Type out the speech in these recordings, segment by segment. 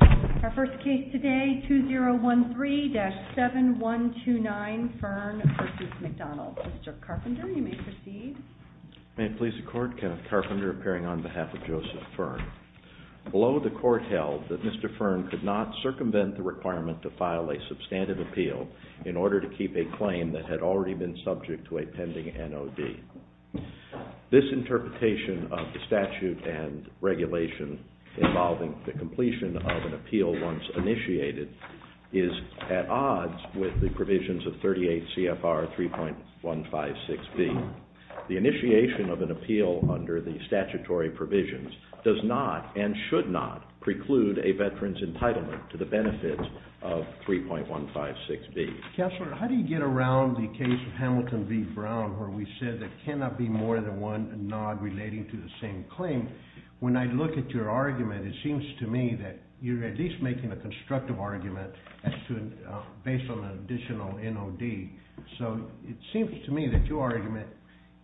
Our first case today, 2013-7129 Fern v. McDonald. Mr. Carpenter, you may proceed. May it please the Court, Kenneth Carpenter appearing on behalf of Joseph Fern. Below, the Court held that Mr. Fern could not circumvent the requirement to file a substantive appeal in order to keep a claim that had already been subject to a pending NOD. This interpretation of the statute and regulation involving the completion of an appeal once initiated is at odds with the provisions of 38 CFR 3.156B. The initiation of an appeal under the statutory provisions does not and should not preclude a veteran's entitlement to the benefits of 3.156B. Counselor, how do you get around the case of Hamilton v. Brown where we said there cannot be more than one NOD relating to the same claim? When I look at your argument, it seems to me that you're at least making a constructive argument based on an additional NOD. So it seems to me that your argument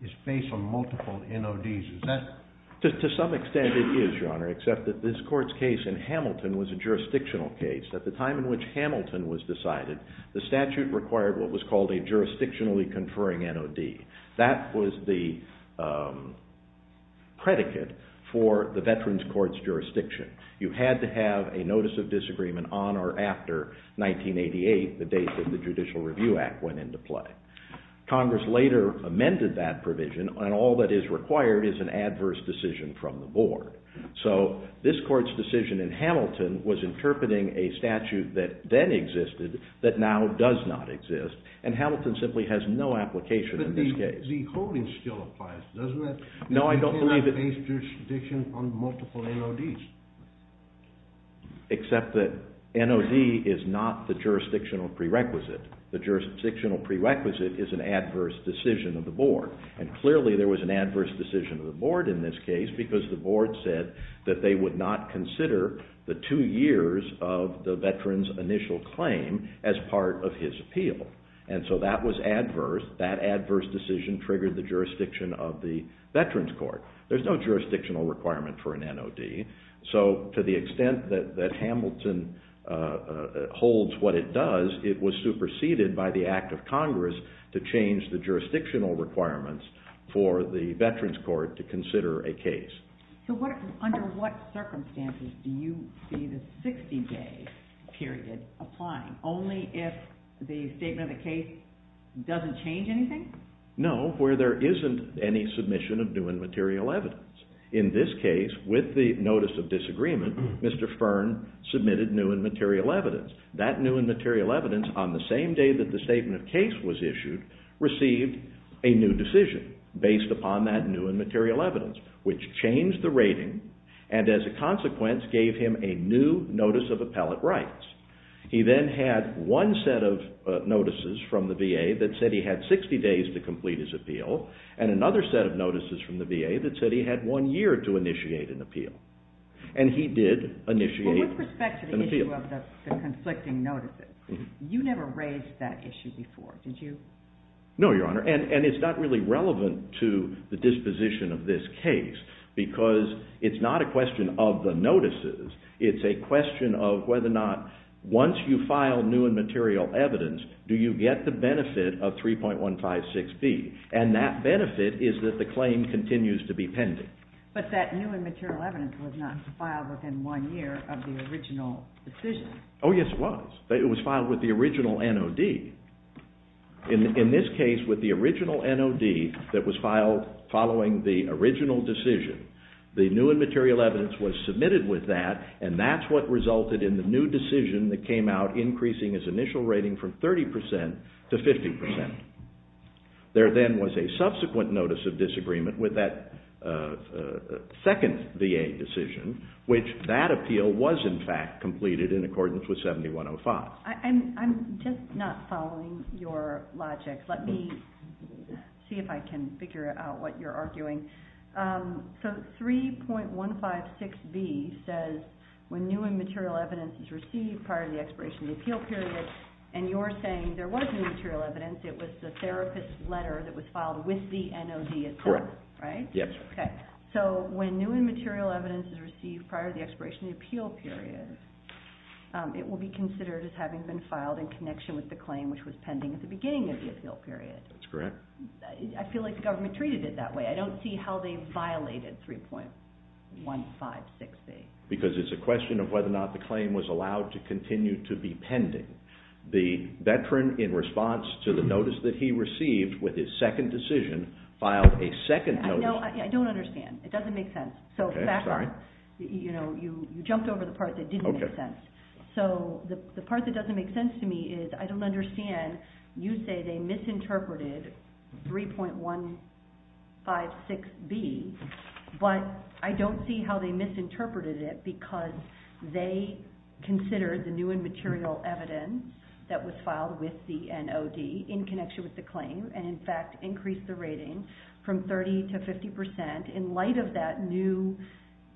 is based on multiple NODs. Is that... To some extent it is, Your Honor, except that this Court's case in Hamilton was a jurisdictional case. At the time in which Hamilton was decided, the statute required what was called a jurisdictionally conferring NOD. That was the predicate for the Veterans Court's jurisdiction. You had to have a notice of disagreement on or after 1988, the date that the Judicial Review Act went into play. Congress later amended that provision, and all that is required is an adverse decision from the Board. So this Court's decision in Hamilton was interpreting a statute that then existed that now does not exist. And Hamilton simply has no application in this case. But the holding still applies, doesn't it? No, I don't believe it. You cannot base jurisdiction on multiple NODs. Except that NOD is not the jurisdictional prerequisite. The jurisdictional prerequisite is an adverse decision of the Board. And clearly there was an adverse decision of the Board in this case because the Board said that they would not consider the two years of the Veteran's initial claim as part of his appeal. And so that was adverse. That adverse decision triggered the jurisdiction of the Veterans Court. There's no jurisdictional requirement for an NOD. So to the extent that Hamilton holds what it does, it was superseded by the act of Congress to change the jurisdictional requirements for the Veterans Court to consider a case. So under what circumstances do you see the 60-day period applying? Only if the statement of the case doesn't change anything? No, where there isn't any submission of new and material evidence. In this case, with the notice of disagreement, Mr. Fearn submitted new and material evidence. That new and material evidence, on the same day that the statement of case was issued, received a new decision based upon that new and material evidence, which changed the rating and as a consequence gave him a new notice of appellate rights. He then had one set of notices from the VA that said he had 60 days to complete his appeal and another set of notices from the VA that said he had one year to initiate an appeal. And he did initiate an appeal. With respect to the issue of the conflicting notices, you never raised that issue before, did you? No, Your Honor, and it's not really relevant to the disposition of this case because it's not a question of the notices. It's a question of whether or not once you file new and material evidence, do you get the benefit of 3.156B. And that benefit is that the claim continues to be pending. But that new and material evidence was not filed within one year of the original decision. Oh, yes, it was. It was filed with the original NOD. In this case, with the original NOD that was filed following the original decision, the new and material evidence was submitted with that, and that's what resulted in the new decision that came out increasing his initial rating from 30% to 50%. There then was a subsequent notice of disagreement with that second VA decision, which that appeal was in fact completed in accordance with 7105. I'm just not following your logic. Let me see if I can figure out what you're arguing. So 3.156B says when new and material evidence is received prior to the expiration of the appeal period, and you're saying there was new material evidence, it was the therapist's letter that was filed with the NOD itself, right? Yes. So when new and material evidence is received prior to the expiration of the appeal period, it will be considered as having been filed in connection with the claim which was pending at the beginning of the appeal period. That's correct. I feel like the government treated it that way. I don't see how they violated 3.156B. Because it's a question of whether or not the claim was allowed to continue to be pending. The veteran, in response to the notice that he received with his second decision, filed a second notice. I don't understand. It doesn't make sense. Sorry. You jumped over the part that didn't make sense. So the part that doesn't make sense to me is I don't understand. You say they misinterpreted 3.156B, but I don't see how they misinterpreted it because they considered the new and material evidence that was filed with the NOD in connection with the claim and, in fact, increased the rating from 30% to 50% in light of that new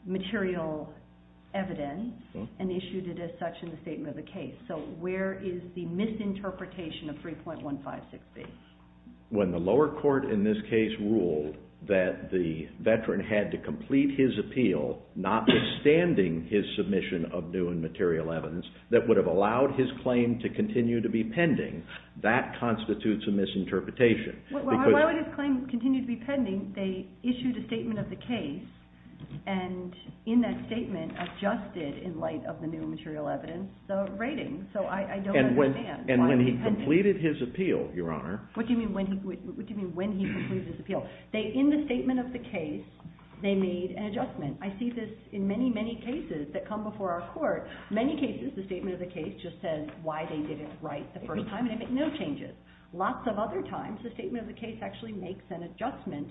material evidence and issued it as such in the statement of the case. So where is the misinterpretation of 3.156B? When the lower court in this case ruled that the veteran had to complete his appeal notwithstanding his submission of new and material evidence that would have allowed his claim to continue to be pending, that constitutes a misinterpretation. Why would his claim continue to be pending? They issued a statement of the case and, in that statement, adjusted, in light of the new and material evidence, the rating. So I don't understand. And when he completed his appeal, Your Honor. What do you mean when he completed his appeal? In the statement of the case, they made an adjustment. I see this in many, many cases that come before our court. Many cases, the statement of the case just says why they did it right the first time, and they make no changes. Lots of other times, the statement of the case actually makes an adjustment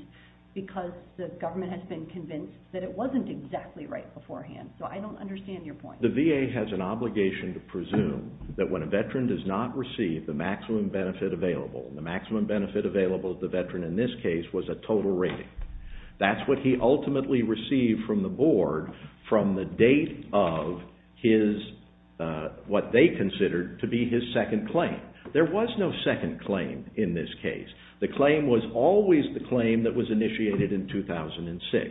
because the government has been convinced that it wasn't exactly right beforehand. So I don't understand your point. The VA has an obligation to presume that when a veteran does not receive the maximum benefit available, the maximum benefit available to the veteran in this case was a total rating. That's what he ultimately received from the board from the date of what they considered to be his second claim. There was no second claim in this case. The claim was always the claim that was initiated in 2006.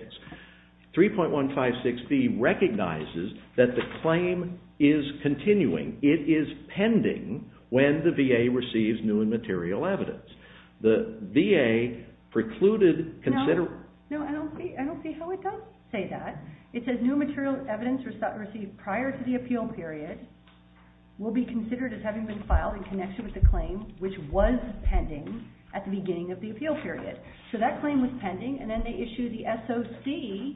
3.156B recognizes that the claim is continuing. It is pending when the VA receives new and material evidence. The VA precluded... No, I don't see how it does say that. It says new material evidence received prior to the appeal period will be considered as having been filed in connection with the claim, which was pending at the beginning of the appeal period. So that claim was pending, and then they issued the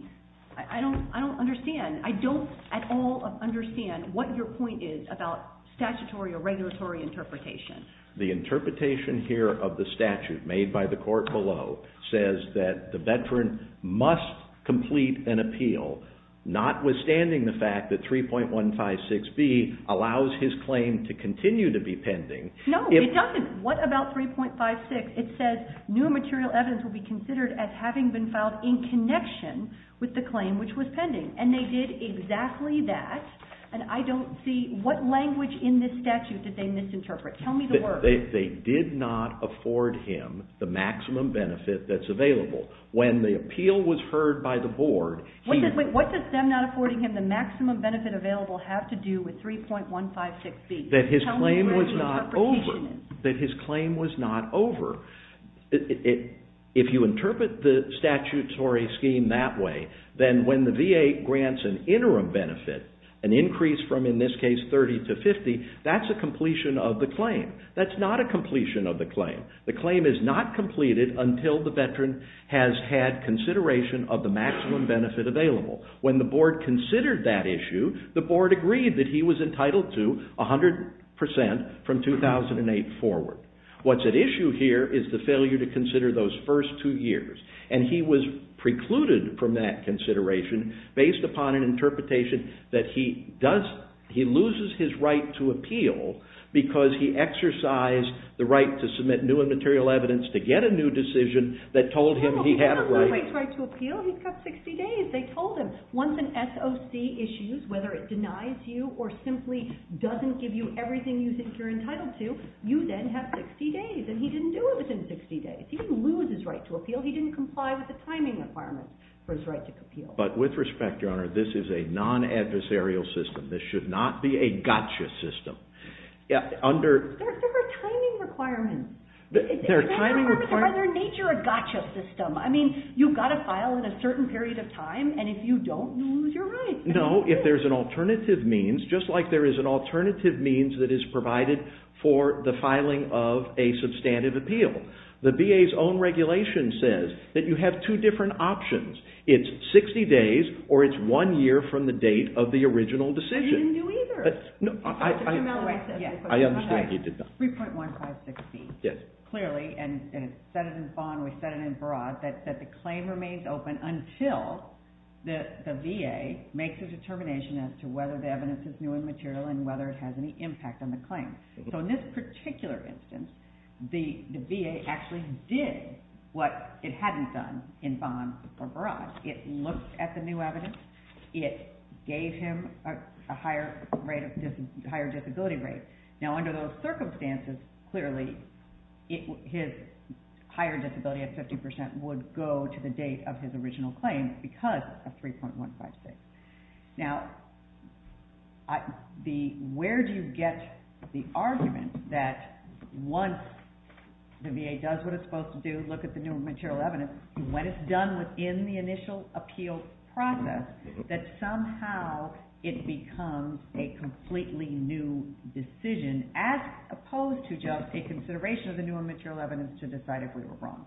SOC. I don't understand. I don't at all understand what your point is about statutory or regulatory interpretation. The interpretation here of the statute made by the court below says that the veteran must complete an appeal, notwithstanding the fact that 3.156B allows his claim to continue to be pending. No, it doesn't. What about 3.156? It says new and material evidence will be considered as having been filed in connection with the claim, which was pending. And they did exactly that, and I don't see... What language in this statute did they misinterpret? Tell me the word. They did not afford him the maximum benefit that's available. When the appeal was heard by the board, he... Wait, what does them not affording him the maximum benefit available have to do with 3.156B? That his claim was not over. Tell me what his interpretation is. That his claim was not over. If you interpret the statutory scheme that way, then when the VA grants an interim benefit, an increase from, in this case, 30 to 50, that's a completion of the claim. That's not a completion of the claim. The claim is not completed until the veteran has had consideration of the maximum benefit available. When the board considered that issue, the board agreed that he was entitled to 100% from 2008 forward. What's at issue here is the failure to consider those first two years. And he was precluded from that consideration based upon an interpretation that he does... He loses his right to appeal because he exercised the right to submit new and material evidence to get a new decision that told him he had a right... He doesn't lose his right to appeal. He's got 60 days. They told him, once an SOC issues, whether it denies you or simply doesn't give you everything you think you're entitled to, you then have 60 days. And he didn't do it within 60 days. He didn't lose his right to appeal. He didn't comply with the timing requirements for his right to appeal. But with respect, Your Honor, this is a non-adversarial system. This should not be a gotcha system. Under... There are timing requirements. There are timing requirements. Are their nature a gotcha system? I mean, you've got to file in a certain period of time, and if you don't, you'll lose your right. No, if there's an alternative means, just like there is an alternative means that is provided for the filing of a substantive appeal. The BA's own regulation says that you have two different options. It's 60 days or it's one year from the date of the original decision. He didn't do either. I understand he did not. 3.1560. Yes. It clearly, and it's set in bond, we set it in barrage, that the claim remains open until the VA makes a determination as to whether the evidence is new and material and whether it has any impact on the claim. So in this particular instance, the VA actually did what it hadn't done in bond or barrage. It looked at the new evidence. It gave him a higher rate of disability, higher disability rate. Now, under those circumstances, clearly, his higher disability at 50% would go to the date of his original claim because of 3.1560. Now, where do you get the argument that once the VA does what it's supposed to do, look at the new material evidence, when it's done within the initial appeal process, that somehow it becomes a completely new decision as opposed to just a consideration of the new and material evidence to decide if we were wrong?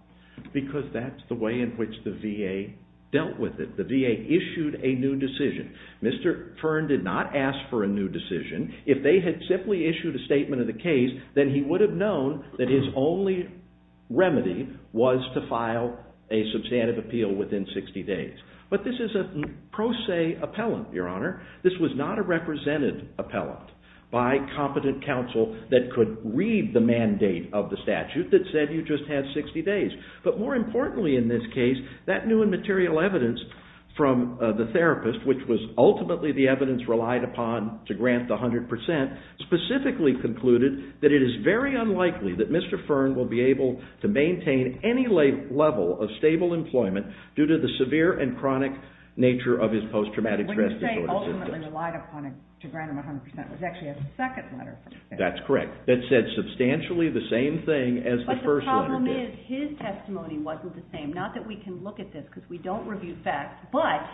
Because that's the way in which the VA dealt with it. The VA issued a new decision. Mr. Fern did not ask for a new decision. If they had simply issued a statement of the case, then he would have known that his only remedy was to file a substantive appeal within 60 days. But this is a pro se appellant, Your Honor. This was not a represented appellant by competent counsel that could read the mandate of the statute that said you just have 60 days. But more importantly in this case, that new and material evidence from the therapist, which was ultimately the evidence relied upon to grant the 100%, specifically concluded that it is very unlikely that Mr. Fern will be able to maintain any level of stable employment due to the severe and chronic nature of his post-traumatic stress disorder. What you're saying ultimately relied upon to grant him 100% was actually a second letter. That's correct. That said substantially the same thing as the first letter did. The problem is his testimony wasn't the same. Not that we can look at this because we don't review facts. But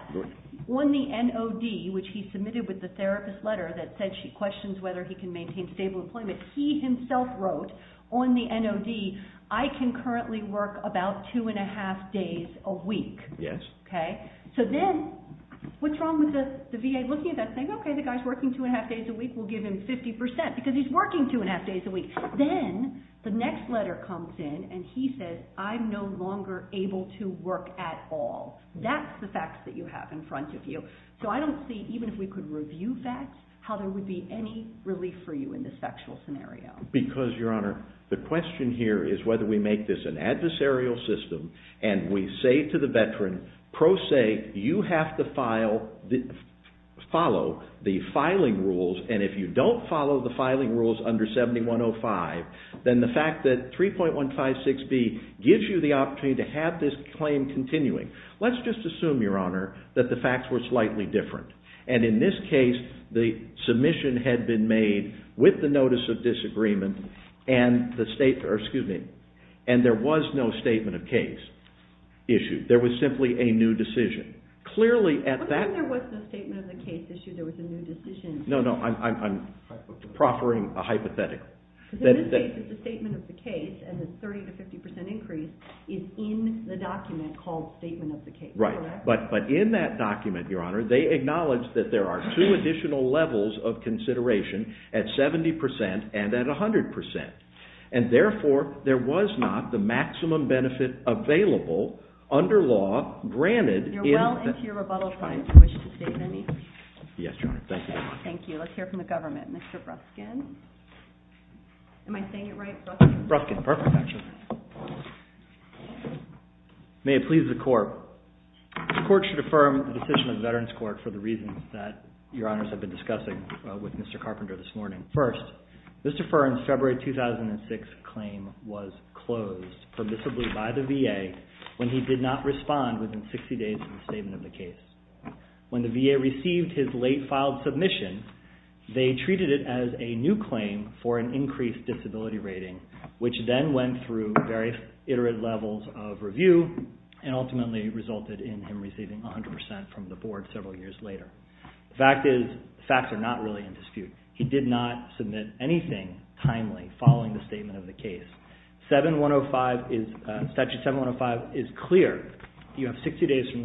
on the NOD, which he submitted with the therapist letter that said she questions whether he can maintain stable employment, he himself wrote on the NOD, I can currently work about two and a half days a week. Yes. Okay. So then what's wrong with the VA looking at that and saying, okay, the guy's working two and a half days a week. We'll give him 50% because he's working two and a half days a week. Then the next letter comes in and he says, I'm no longer able to work at all. That's the facts that you have in front of you. So I don't see, even if we could review facts, how there would be any relief for you in this factual scenario. Because, Your Honor, the question here is whether we make this an adversarial system and we say to the veteran, pro se, you have to follow the filing rules. And if you don't follow the filing rules under 7105, then the fact that 3.156B gives you the opportunity to have this claim continuing. Let's just assume, Your Honor, that the facts were slightly different. And in this case, the submission had been made with the notice of disagreement and there was no statement of case issued. There was simply a new decision. What do you mean there was no statement of the case issued, there was a new decision? No, no, I'm proffering a hypothetical. Because in this case it's a statement of the case and the 30% to 50% increase is in the document called statement of the case, correct? Right. But in that document, Your Honor, they acknowledge that there are two additional levels of consideration at 70% and at 100%. And therefore, there was not the maximum benefit available under law granted. You're well into your rebuttal time if you wish to state any. Yes, Your Honor. Thank you very much. Thank you. Let's hear from the government. Mr. Bruskin. Am I saying it right? Bruskin, perfect actually. May it please the Court. The Court should affirm the decision of the Veterans Court for the reasons that Your Honors have been discussing with Mr. Carpenter this morning. First, Mr. Fern's February 2006 claim was closed permissibly by the VA when he did not respond within 60 days of the statement of the case. When the VA received his late filed submission, they treated it as a new claim for an increased disability rating, which then went through various iterative levels of review and ultimately resulted in him receiving 100% from the board several years later. The fact is, facts are not really in dispute. He did not submit anything timely following the statement of the case. Statute 7105 is clear. You have 60 days from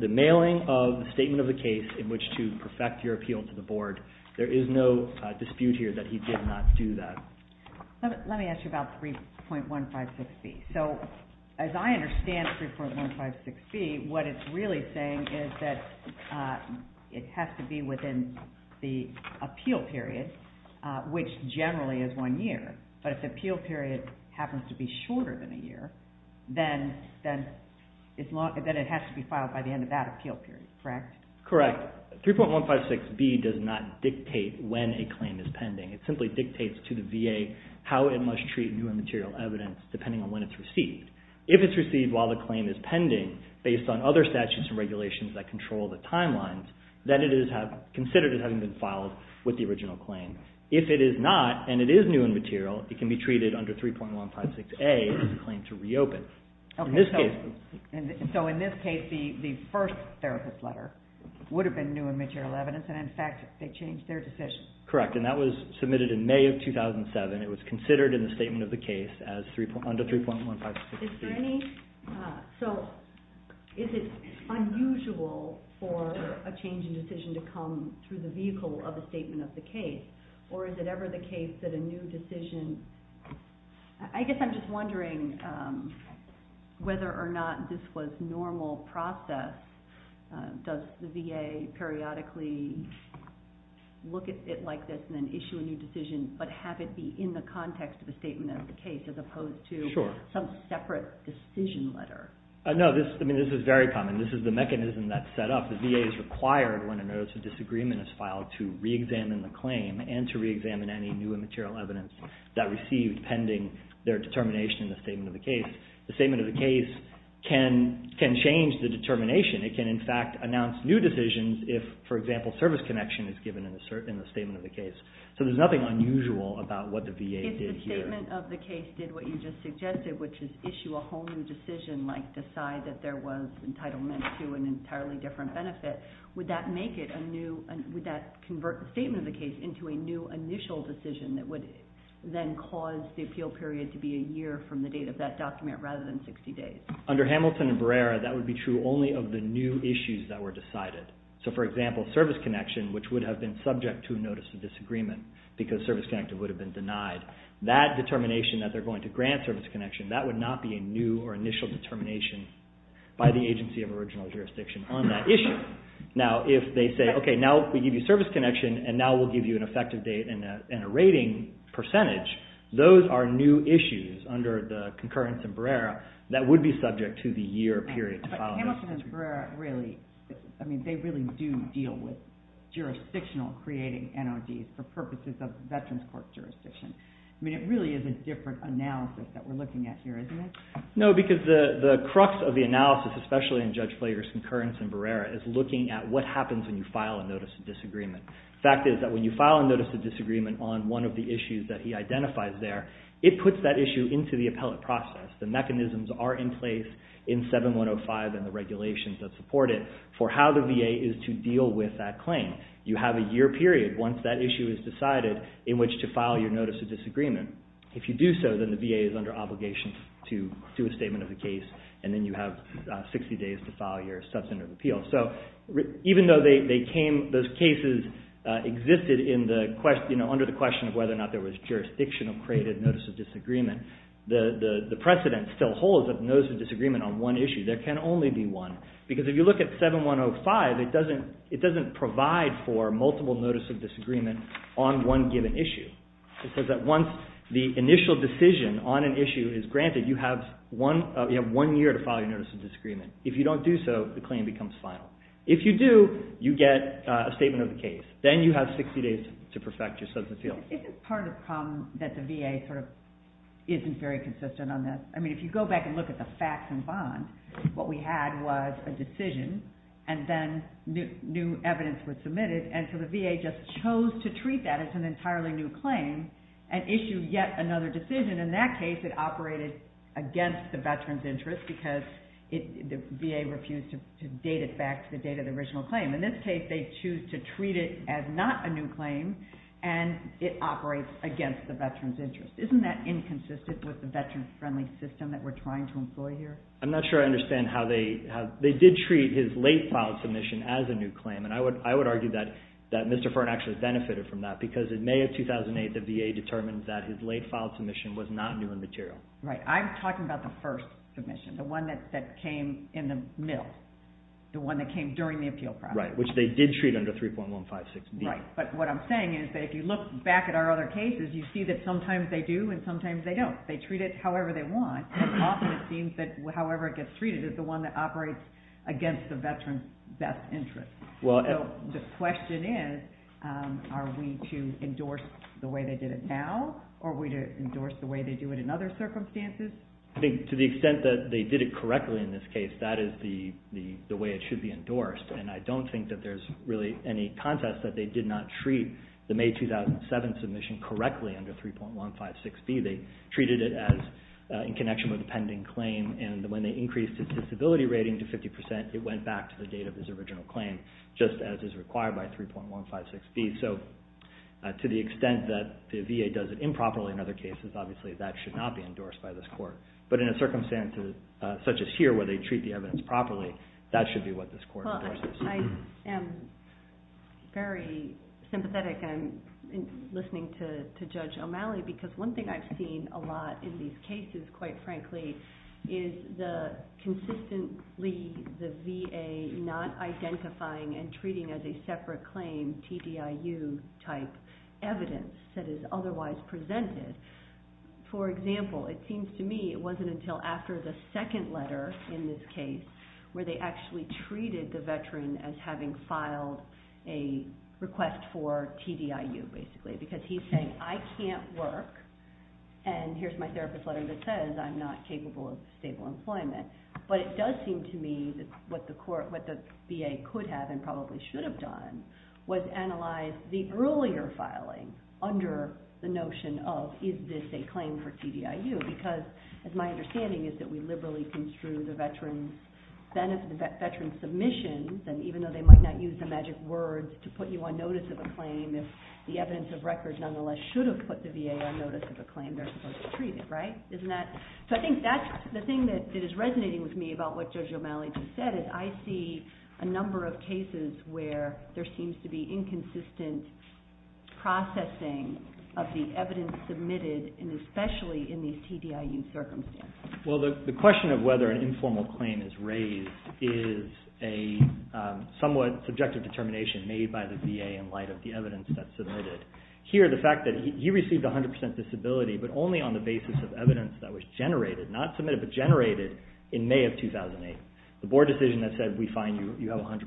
the mailing of the statement of the case in which to perfect your appeal to the board. There is no dispute here that he did not do that. Let me ask you about 3.156B. So, as I understand 3.156B, what it's really saying is that it has to be within the appeal period, which generally is one year. But if the appeal period happens to be shorter than a year, then it has to be filed by the end of that appeal period, correct? Correct. 3.156B does not dictate when a claim is pending. It simply dictates to the VA how it must treat new and material evidence depending on when it's received. If it's received while the claim is pending based on other statutes and regulations that control the timelines, then it is considered as having been filed with the original claim. If it is not, and it is new and material, it can be treated under 3.156A as a claim to reopen. So, in this case, the first therapist letter would have been new and material evidence, and in fact, they changed their decision. Correct. And that was submitted in May of 2007. It was considered in the statement of the case under 3.156B. So, is it unusual for a change in decision to come through the vehicle of a statement of the case? Or is it ever the case that a new decision… I guess I'm just wondering whether or not this was normal process. Does the VA periodically look at it like this and then issue a new decision, but have it be in the context of the statement of the case as opposed to some separate decision letter? No, this is very common. This is the mechanism that's set up. The VA is required when a notice of disagreement is filed to re-examine the claim and to re-examine any new and material evidence that received pending their determination in the statement of the case. The statement of the case can change the determination. It can, in fact, announce new decisions if, for example, service connection is given in the statement of the case. So, there's nothing unusual about what the VA did here. If the statement of the case did what you just suggested, which is issue a whole new decision, like decide that there was entitlement to an entirely different benefit, would that convert the statement of the case into a new initial decision that would then cause the appeal period to be a year from the date of that document rather than 60 days? Under Hamilton and Barrera, that would be true only of the new issues that were decided. So, for example, service connection, which would have been subject to a notice of disagreement because service connection would have been denied, that determination that they're going to grant service connection, that would not be a new or initial determination by the agency of original jurisdiction on that issue. Now, if they say, okay, now we give you service connection and now we'll give you an effective date and a rating percentage, those are new issues under the concurrence in Barrera that would be subject to the year period. But Hamilton and Barrera really, I mean, they really do deal with jurisdictional creating NOD for purposes of veterans court jurisdiction. I mean, it really is a different analysis that we're looking at here, isn't it? No, because the crux of the analysis, especially in Judge Flager's concurrence in Barrera, is looking at what happens when you file a notice of disagreement. The fact is that when you file a notice of disagreement on one of the issues that he identifies there, it puts that issue into the appellate process. The mechanisms are in place in 7105 and the regulations that support it for how the VA is to deal with that claim. You have a year period once that issue is decided in which to file your notice of disagreement. If you do so, then the VA is under obligation to do a statement of the case and then you have 60 days to file your substantive appeal. So even though those cases existed under the question of whether or not there was jurisdictional created notice of disagreement, the precedent still holds that notice of disagreement on one issue. There can only be one, because if you look at 7105, it doesn't provide for multiple notice of disagreement on one given issue. It says that once the initial decision on an issue is granted, you have one year to file your notice of disagreement. If you don't do so, the claim becomes final. If you do, you get a statement of the case. Then you have 60 days to perfect your substantive appeal. Isn't part of the problem that the VA sort of isn't very consistent on this? I mean, if you go back and look at the facts and bonds, what we had was a decision and then new evidence was submitted, and so the VA just chose to treat that as an entirely new claim and issued yet another decision. In that case, it operated against the veteran's interest because the VA refused to date it back to the date of the original claim. In this case, they choose to treat it as not a new claim and it operates against the veteran's interest. Isn't that inconsistent with the veteran-friendly system that we're trying to employ here? I'm not sure I understand how they did treat his late filed submission as a new claim, and I would argue that Mr. Fern actually benefited from that because in May of 2008, the VA determined that his late filed submission was not new in material. Right. I'm talking about the first submission, the one that came in the middle, the one that came during the appeal process. Right, which they did treat under 3.156B. Right, but what I'm saying is that if you look back at our other cases, you see that sometimes they do and sometimes they don't. They treat it however they want, and often it seems that however it gets treated is the one that operates against the veteran's best interest. So the question is, are we to endorse the way they did it now, or are we to endorse the way they do it in other circumstances? I think to the extent that they did it correctly in this case, that is the way it should be endorsed, and I don't think that there's really any contest that they did not treat the May 2007 submission correctly under 3.156B. They treated it in connection with a pending claim, and when they increased his disability rating to 50 percent, it went back to the date of his original claim, just as is required by 3.156B. So to the extent that the VA does it improperly in other cases, obviously that should not be endorsed by this court, but in a circumstance such as here where they treat the evidence properly, that should be what this court endorses. I am very sympathetic in listening to Judge O'Malley because one thing I've seen a lot in these cases, quite frankly, is consistently the VA not identifying and treating as a separate claim TDIU-type evidence that is otherwise presented. For example, it seems to me it wasn't until after the second letter in this case where they actually treated the veteran as having filed a request for TDIU, basically, because he's saying, I can't work, and here's my therapist's letter that says I'm not capable of stable employment, but it does seem to me that what the VA could have and probably should have done was analyze the earlier filing under the notion of is this a claim for TDIU because my understanding is that we liberally construe the veteran's submissions, and even though they might not use the magic words to put you on notice of a claim, if the evidence of records nonetheless should have put the VA on notice of a claim, they're supposed to treat it, right? So I think that's the thing that is resonating with me about what Judge O'Malley just said is I see a number of cases where there seems to be inconsistent processing of the evidence submitted, and especially in these TDIU circumstances. Well, the question of whether an informal claim is raised is a somewhat subjective determination made by the VA in light of the evidence that's submitted. Here, the fact that he received 100% disability, but only on the basis of evidence that was generated, not submitted, but generated in May of 2008. The board decision that said we find you have 100%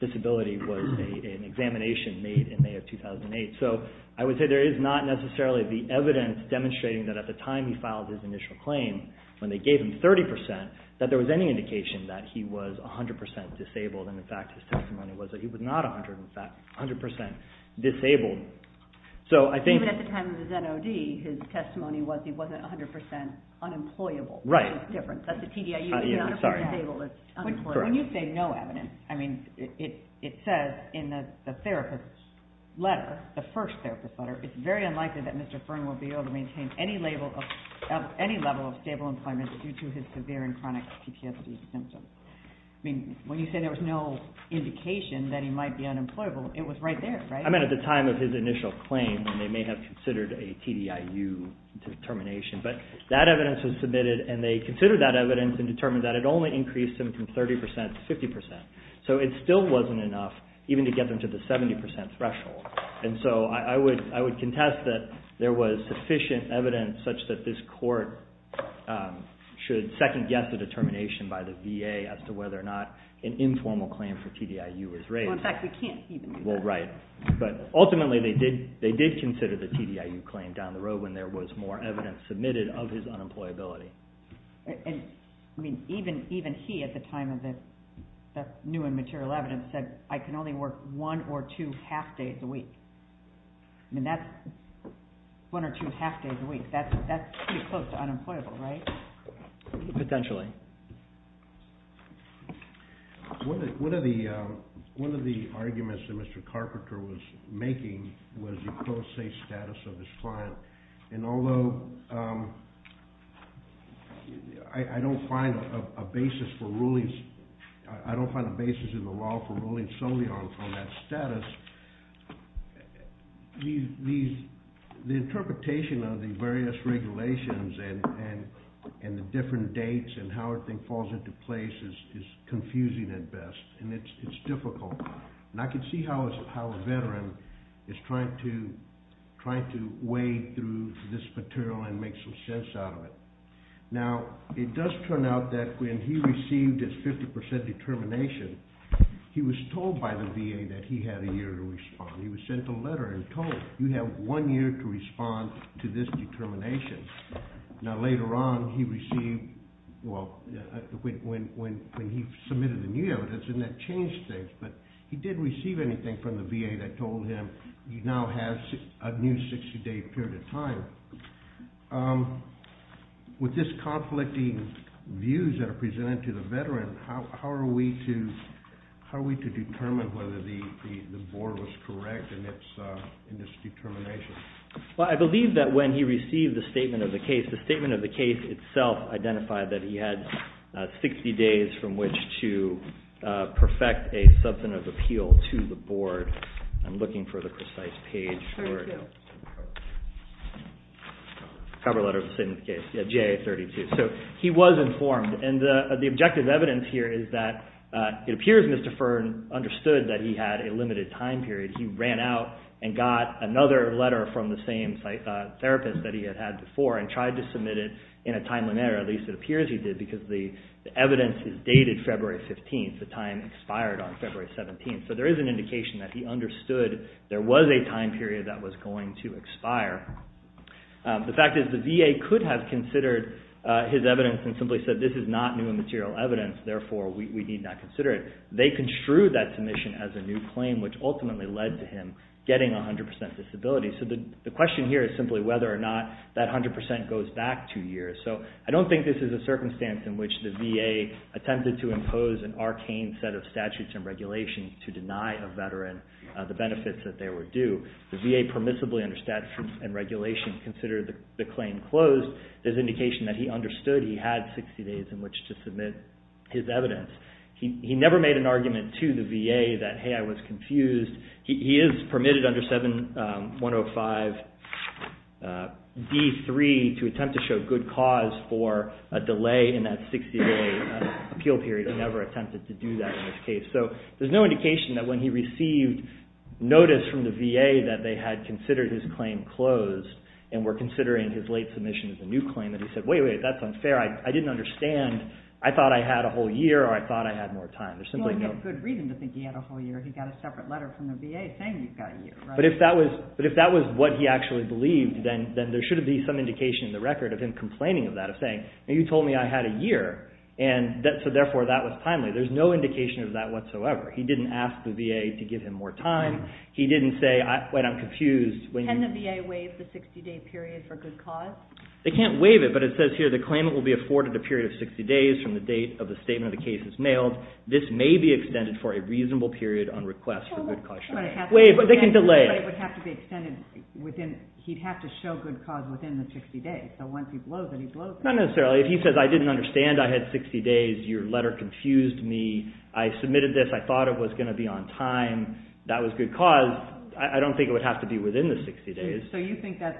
disability was an examination made in May of 2008. So I would say there is not necessarily the evidence demonstrating that at the time he filed his initial claim, when they gave him 30%, that there was any indication that he was 100% disabled, and in fact his testimony was that he was not 100% disabled. Even at the time of his NOD, his testimony was he wasn't 100% unemployable. Right. That's the difference. That's the TDIU. When you say no evidence, it says in the therapist's letter, the first therapist's letter, it's very unlikely that Mr. Fern will be able to maintain any level of stable employment due to his severe and chronic PTSD symptoms. I mean, when you say there was no indication that he might be unemployable, it was right there, right? I mean, at the time of his initial claim, and they may have considered a TDIU determination, but that evidence was submitted, and they considered that evidence and determined that it only increased him from 30% to 50%. So it still wasn't enough even to get them to the 70% threshold. And so I would contest that there was sufficient evidence such that this court should second-guess a determination by the VA as to whether or not an informal claim for TDIU was raised. Well, in fact, we can't even do that. Well, right. But ultimately they did consider the TDIU claim down the road when there was more evidence submitted of his unemployability. I mean, even he at the time of the new and material evidence said, I can only work one or two half-days a week. I mean, that's one or two half-days a week. That's pretty close to unemployable, right? Potentially. One of the arguments that Mr. Carpenter was making was the close-safe status of his client. And although I don't find a basis in the law for ruling solely on that status, the interpretation of the various regulations and the different dates and how everything falls into place is confusing at best, and it's difficult. And I can see how a veteran is trying to wade through this material and make some sense out of it. Now, it does turn out that when he received his 50% determination, he was told by the VA that he had a year to respond. He was sent a letter and told, you have one year to respond to this determination. Now, later on, when he submitted the new evidence, didn't that change things? But he didn't receive anything from the VA that told him he now has a new 60-day period of time. With this conflicting views that are presented to the veteran, how are we to determine whether the board was correct in this determination? Well, I believe that when he received the statement of the case, the statement of the case itself identified that he had 60 days from which to perfect a substantive appeal to the board. I'm looking for the precise page for it. There it is. Cover letter of the sentence case, yeah, JA32. So he was informed, and the objective evidence here is that it appears Mr. Fearn understood that he had a limited time period. He ran out and got another letter from the same therapist that he had had before and tried to submit it in a timely manner, at least it appears he did, because the evidence is dated February 15th. The time expired on February 17th. So there is an indication that he understood there was a time period that was going to expire. The fact is the VA could have considered his evidence and simply said, this is not new and material evidence, therefore we need not consider it. However, they construed that submission as a new claim, which ultimately led to him getting 100% disability. So the question here is simply whether or not that 100% goes back two years. So I don't think this is a circumstance in which the VA attempted to impose an arcane set of statutes and regulations to deny a veteran the benefits that they were due. The VA permissibly under statutes and regulations considered the claim closed. There's indication that he understood he had 60 days in which to submit his evidence. He never made an argument to the VA that, hey, I was confused. He is permitted under 7105 D3 to attempt to show good cause for a delay in that 60-day appeal period. He never attempted to do that in this case. So there's no indication that when he received notice from the VA that they had considered his claim closed and were considering his late submission as a new claim that he said, wait, wait, that's unfair. I didn't understand. I thought I had a whole year or I thought I had more time. There's simply no – Well, he had good reason to think he had a whole year. He got a separate letter from the VA saying he's got a year, right? But if that was what he actually believed, then there should be some indication in the record of him complaining of that, of saying, you told me I had a year, and so therefore that was timely. There's no indication of that whatsoever. He didn't ask the VA to give him more time. He didn't say, wait, I'm confused. Can the VA waive the 60-day period for good cause? They can't waive it, but it says here the claimant will be afforded a period of 60 days from the date of the statement of the case is mailed. This may be extended for a reasonable period on request for good cause. Well, that's what it has to be. But they can delay. But it would have to be extended within – he'd have to show good cause within the 60 days. So once he blows it, he blows it. Not necessarily. If he says I didn't understand, I had 60 days, your letter confused me, I submitted this, I thought it was going to be on time, that was good cause, I don't think it would have to be within the 60 days. So you think that's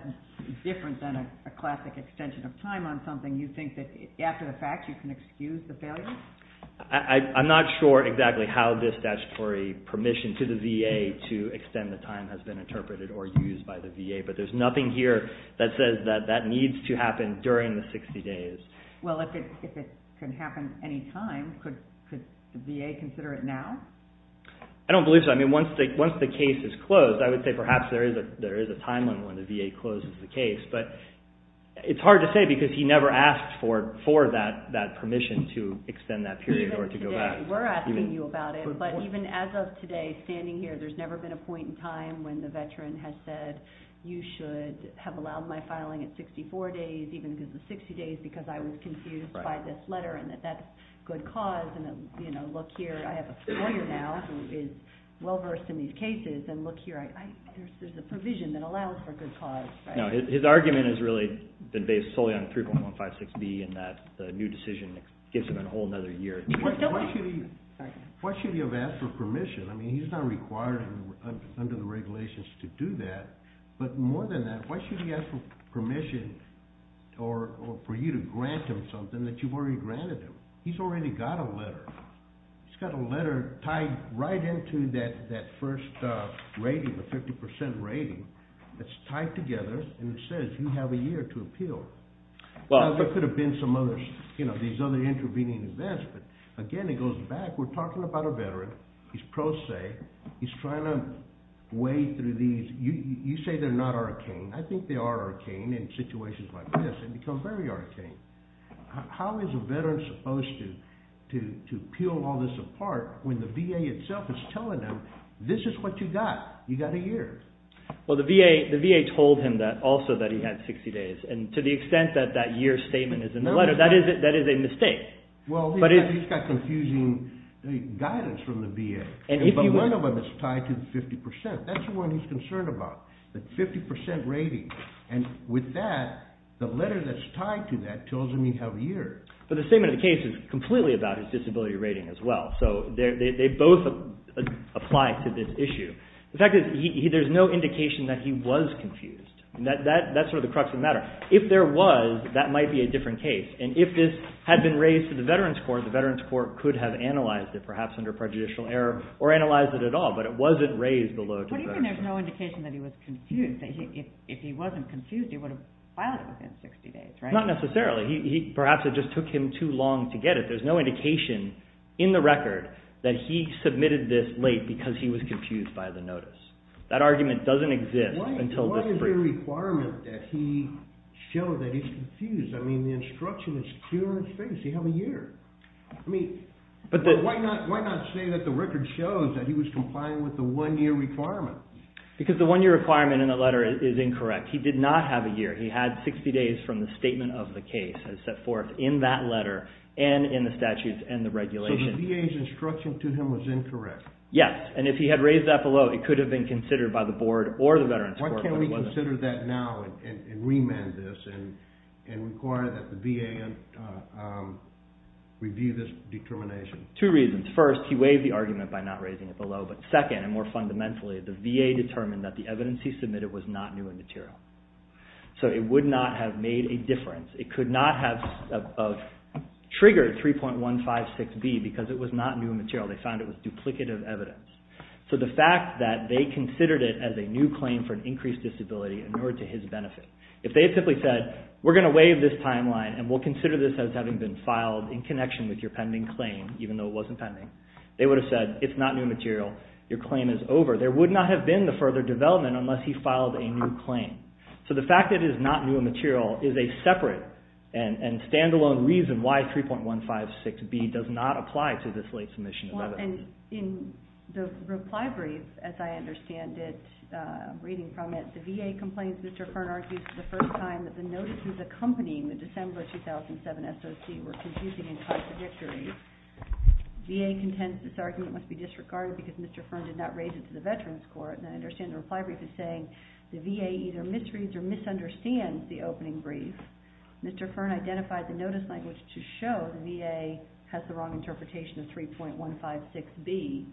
different than a classic extension of time on something? You think that after the fact you can excuse the failure? I'm not sure exactly how this statutory permission to the VA to extend the time has been interpreted or used by the VA, but there's nothing here that says that that needs to happen during the 60 days. Well, if it can happen any time, could the VA consider it now? I don't believe so. Once the case is closed, I would say perhaps there is a timeline when the VA closes the case. But it's hard to say because he never asked for that permission to extend that period or to go back. Even today, we're asking you about it. But even as of today, standing here, there's never been a point in time when the veteran has said you should have allowed my filing at 64 days even because of 60 days because I was confused by this letter and that that's good cause. And look here, I have a lawyer now who is well-versed in these cases. And look here, there's a provision that allows for good cause. His argument has really been based solely on 3.156B and that the new decision gives him a whole other year. Why should he have asked for permission? I mean, he's not required under the regulations to do that. But more than that, why should he ask for permission or for you to grant him something that you've already granted him? He's already got a letter. He's got a letter tied right into that first rating, the 50% rating. It's tied together and it says you have a year to appeal. Now, there could have been some other, you know, these other intervening events. But again, it goes back. We're talking about a veteran. He's pro se. He's trying to wade through these. You say they're not arcane. I think they are arcane in situations like this. It becomes very arcane. How is a veteran supposed to peel all this apart when the VA itself is telling them this is what you got. You got a year. Well, the VA told him also that he had 60 days. And to the extent that that year statement is in the letter, that is a mistake. Well, he's got confusing guidance from the VA. But one of them is tied to the 50%. That's the one he's concerned about, the 50% rating. And with that, the letter that's tied to that tells him you have a year. But the statement of the case is completely about his disability rating as well. So they both apply to this issue. The fact is, there's no indication that he was confused. That's sort of the crux of the matter. If there was, that might be a different case. And if this had been raised to the Veterans Court, the Veterans Court could have analyzed it, perhaps under prejudicial error, or analyzed it at all. But it wasn't raised below a disability rating. What do you mean there's no indication that he was confused? If he wasn't confused, he would have filed it within 60 days, right? Not necessarily. Perhaps it just took him too long to get it. There's no indication in the record that he submitted this late because he was confused by the notice. That argument doesn't exist until this briefing. Why is there a requirement that he show that he's confused? I mean, the instruction is clear on his face. He has a year. I mean, why not say that the record shows that he was complying with the one-year requirement? Because the one-year requirement in the letter is incorrect. He did not have a year. He had 60 days from the statement of the case as set forth in that letter and in the statutes and the regulations. So the VA's instruction to him was incorrect? Yes, and if he had raised that below, it could have been considered by the Board or the Veterans Court. Why can't we consider that now and remand this and require that the VA review this determination? Two reasons. First, he waived the argument by not raising it below. But second, and more fundamentally, the VA determined that the evidence he submitted was not new in material. So it would not have made a difference. It could not have triggered 3.156B because it was not new in material. They found it was duplicative evidence. So the fact that they considered it as a new claim for an increased disability in order to his benefit. If they had simply said, we're going to waive this timeline and we'll consider this as having been filed in connection with your pending claim, even though it wasn't pending, they would have said, it's not new material. Your claim is over. There would not have been the further development unless he filed a new claim. So the fact that it is not new in material is a separate and stand-alone reason why 3.156B does not apply to this late submission of evidence. In the reply brief, as I understand it, reading from it, the VA complains Mr. Kern argues for the first time that the notices accompanying the December 2007 SOC were confusing and contradictory. VA contends this argument must be disregarded because Mr. Kern did not raise it to the Veterans Court. And I understand the reply brief is saying the VA either misreads or misunderstands the opening brief. Mr. Kern identified the notice language to show the VA has the wrong interpretation of 3.156B,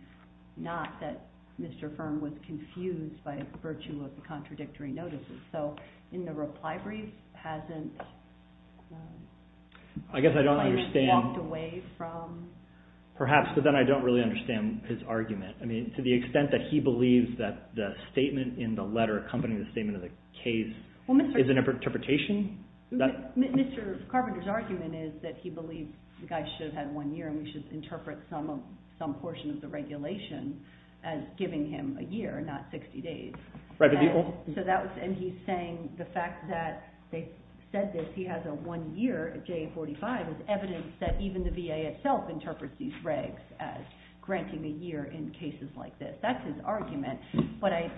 not that Mr. Kern was confused by virtue of the contradictory notices. So in the reply brief, hasn't walked away Perhaps, but then I don't really understand his argument. To the extent that he believes that the statement in the letter accompanying the statement of the case is an interpretation? Mr. Carpenter's argument is that he believes the guy should have had one year and we should interpret some portion of the regulation as giving him a year, not 60 days. And he's saying the fact that they said this, that he has a one year, a J45, is evidence that even the VA itself interprets these regs as granting a year in cases like this. That's his argument. But I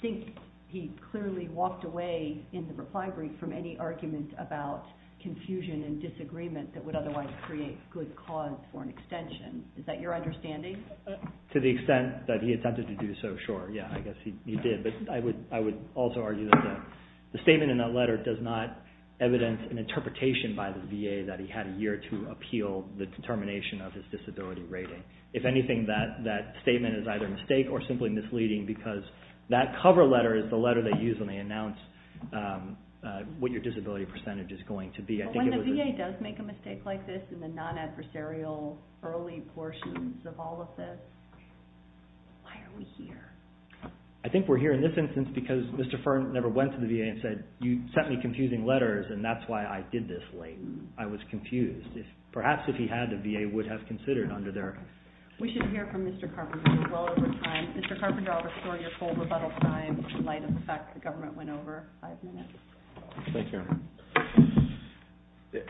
think he clearly walked away in the reply brief from any argument about confusion and disagreement that would otherwise create good cause for an extension. Is that your understanding? To the extent that he attempted to do so, sure. Yeah, I guess he did. I would also argue that the statement in that letter does not evidence an interpretation by the VA that he had a year to appeal the determination of his disability rating. If anything, that statement is either a mistake or simply misleading because that cover letter is the letter they use when they announce what your disability percentage is going to be. When the VA does make a mistake like this in the non-adversarial early portions of all of this, why are we here? I think we're here in this instance because Mr. Fearn never went to the VA and said, you sent me confusing letters and that's why I did this late. I was confused. Perhaps if he had, the VA would have considered under their... We should hear from Mr. Carpenter. Mr. Carpenter, I'll restore your full rebuttal time in light of the fact the government went over five minutes. Thank you.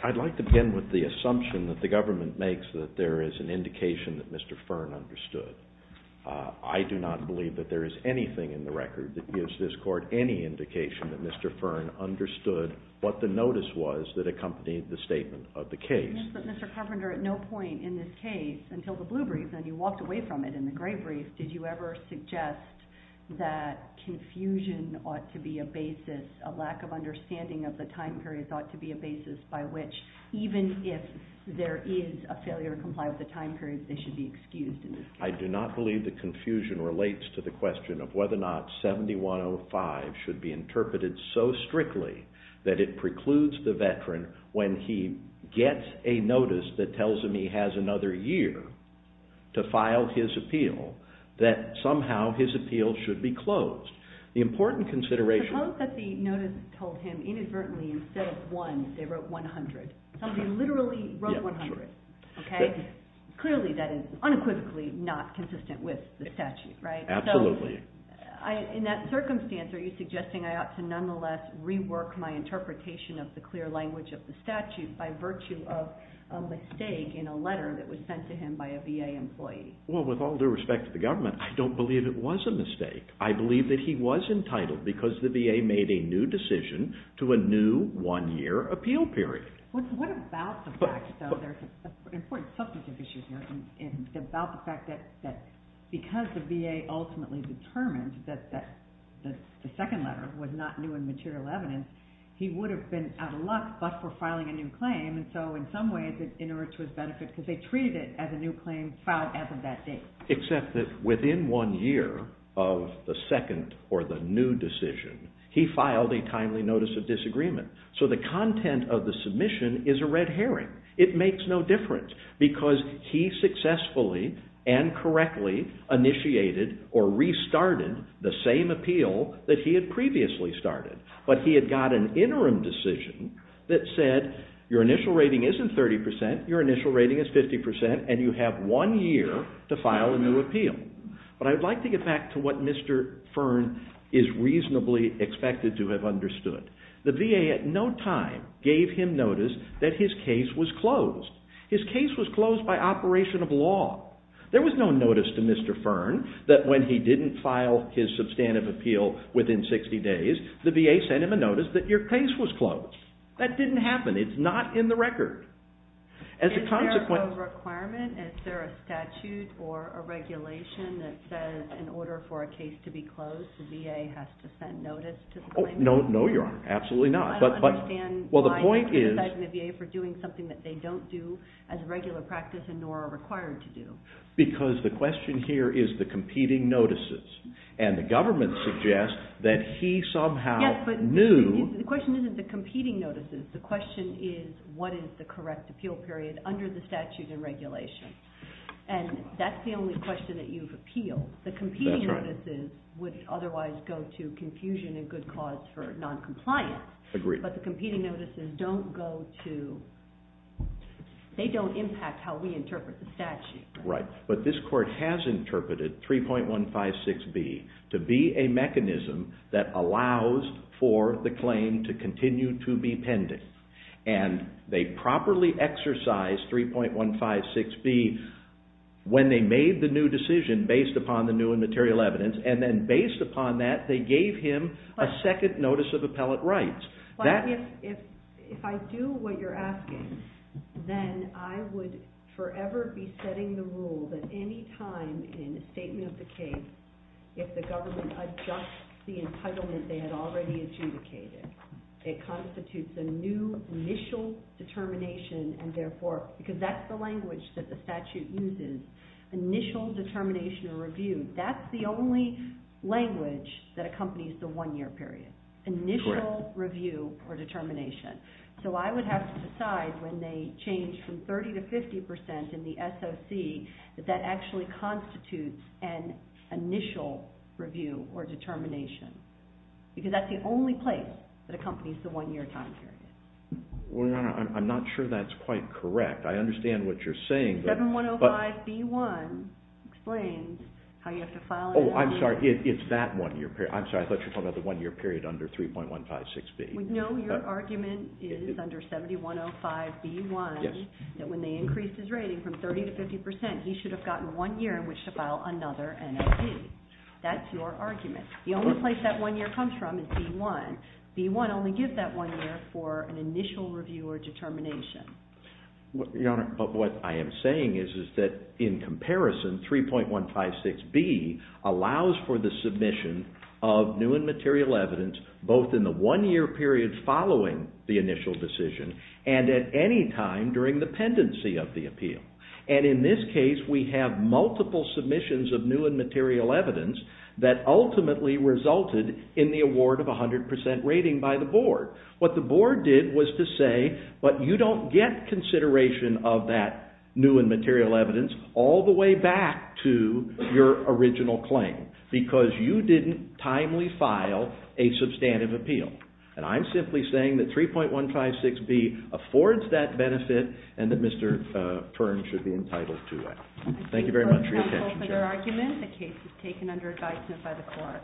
I'd like to begin with the assumption that the government makes that there is an indication that Mr. Fearn understood. I do not believe that there is anything in the record that gives this court any indication that Mr. Fearn understood what the notice was that accompanied the statement of the case. Yes, but Mr. Carpenter, at no point in this case, until the blue brief and you walked away from it in the gray brief, did you ever suggest that confusion ought to be a basis, a lack of understanding of the time periods ought to be a basis by which even if there is a failure to comply with the time periods, they should be excused in this case. I do not believe the confusion relates to the question of whether or not 7105 should be interpreted so strictly that it precludes the veteran when he gets a notice that tells him he has another year to file his appeal that somehow his appeal should be closed. The important consideration... Suppose that the notice told him inadvertently instead of one, they wrote 100. Somebody literally wrote 100. Clearly that is unequivocally not consistent with the statute. Absolutely. In that circumstance, are you suggesting I ought to nonetheless rework my interpretation of the clear language of the statute by virtue of a mistake in a letter that was sent to him by a VA employee? With all due respect to the government, I don't believe it was a mistake. I believe that he was entitled because the VA made a new decision to a new one-year appeal period. What about the fact, though? There's an important substantive issue here. It's about the fact that because the VA ultimately determined that the second letter was not new and material evidence, he would have been out of luck but for filing a new claim, and so in some ways it inerts his benefit because they treated it as a new claim filed as of that date. Except that within one year of the second or the new decision, he filed a timely notice of disagreement. So the content of the submission is a red herring. It makes no difference because he successfully and correctly initiated or restarted the same appeal that he had previously started, but he had got an interim decision that said, your initial rating isn't 30%, your initial rating is 50%, and you have one year to file a new appeal. But I would like to get back to what Mr. Fearn is reasonably expected to have understood. The VA at no time gave him notice that his case was closed. His case was closed by operation of law. There was no notice to Mr. Fearn that when he didn't file his substantive appeal within 60 days, the VA sent him a notice that your case was closed. That didn't happen. It's not in the record. Is there a requirement, is there a statute or a regulation that says in order for a case to be closed, the VA has to send notice to the claimant? No, Your Honor, absolutely not. I don't understand why they criticize the VA for doing something that they don't do as a regular practice and nor are required to do. Because the question here is the competing notices, and the government suggests that he somehow knew. Yes, but the question isn't the competing notices. The question is what is the correct appeal period under the statute and regulation, and that's the only question that you've appealed. The competing notices would otherwise go to confusion and good cause for noncompliance. Agreed. But the competing notices don't go to... they don't impact how we interpret the statute. Right, but this Court has interpreted 3.156B to be a mechanism that allows for the claim to continue to be pending. And they properly exercised 3.156B when they made the new decision based upon the new and material evidence, and then based upon that, they gave him a second notice of appellate rights. If I do what you're asking, then I would forever be setting the rule that any time in a statement of the case if the government adjusts the entitlement they had already adjudicated, it constitutes a new initial determination, and therefore, because that's the language that the statute uses, initial determination or review. That's the only language that accompanies the one-year period, initial review or determination. So I would have to decide when they change from 30% to 50% in the SOC that that actually constitutes an initial review or determination, because that's the only place that accompanies the one-year time period. Well, Your Honor, I'm not sure that's quite correct. I understand what you're saying, but... Oh, I'm sorry, it's that one-year period. I'm sorry, I thought you were talking about the one-year period under 3.156B. No, your argument is under 7105B1 that when they increased his rating from 30% to 50%, he should have gotten one year in which to file another NOD. That's your argument. The only place that one year comes from is B1. B1 only gives that one year for an initial review or determination. Your Honor, but what I am saying is that in comparison, 3.156B allows for the submission of new and material evidence both in the one-year period following the initial decision and at any time during the pendency of the appeal. And in this case, we have multiple submissions of new and material evidence that ultimately resulted in the award of 100% rating by the Board. What the Board did was to say, but you don't get consideration of that new and material evidence all the way back to your original claim because you didn't timely file a substantive appeal. And I'm simply saying that 3.156B affords that benefit and that Mr. Pern should be entitled to it. Thank you very much for your time. The case is taken under advisement by the Court.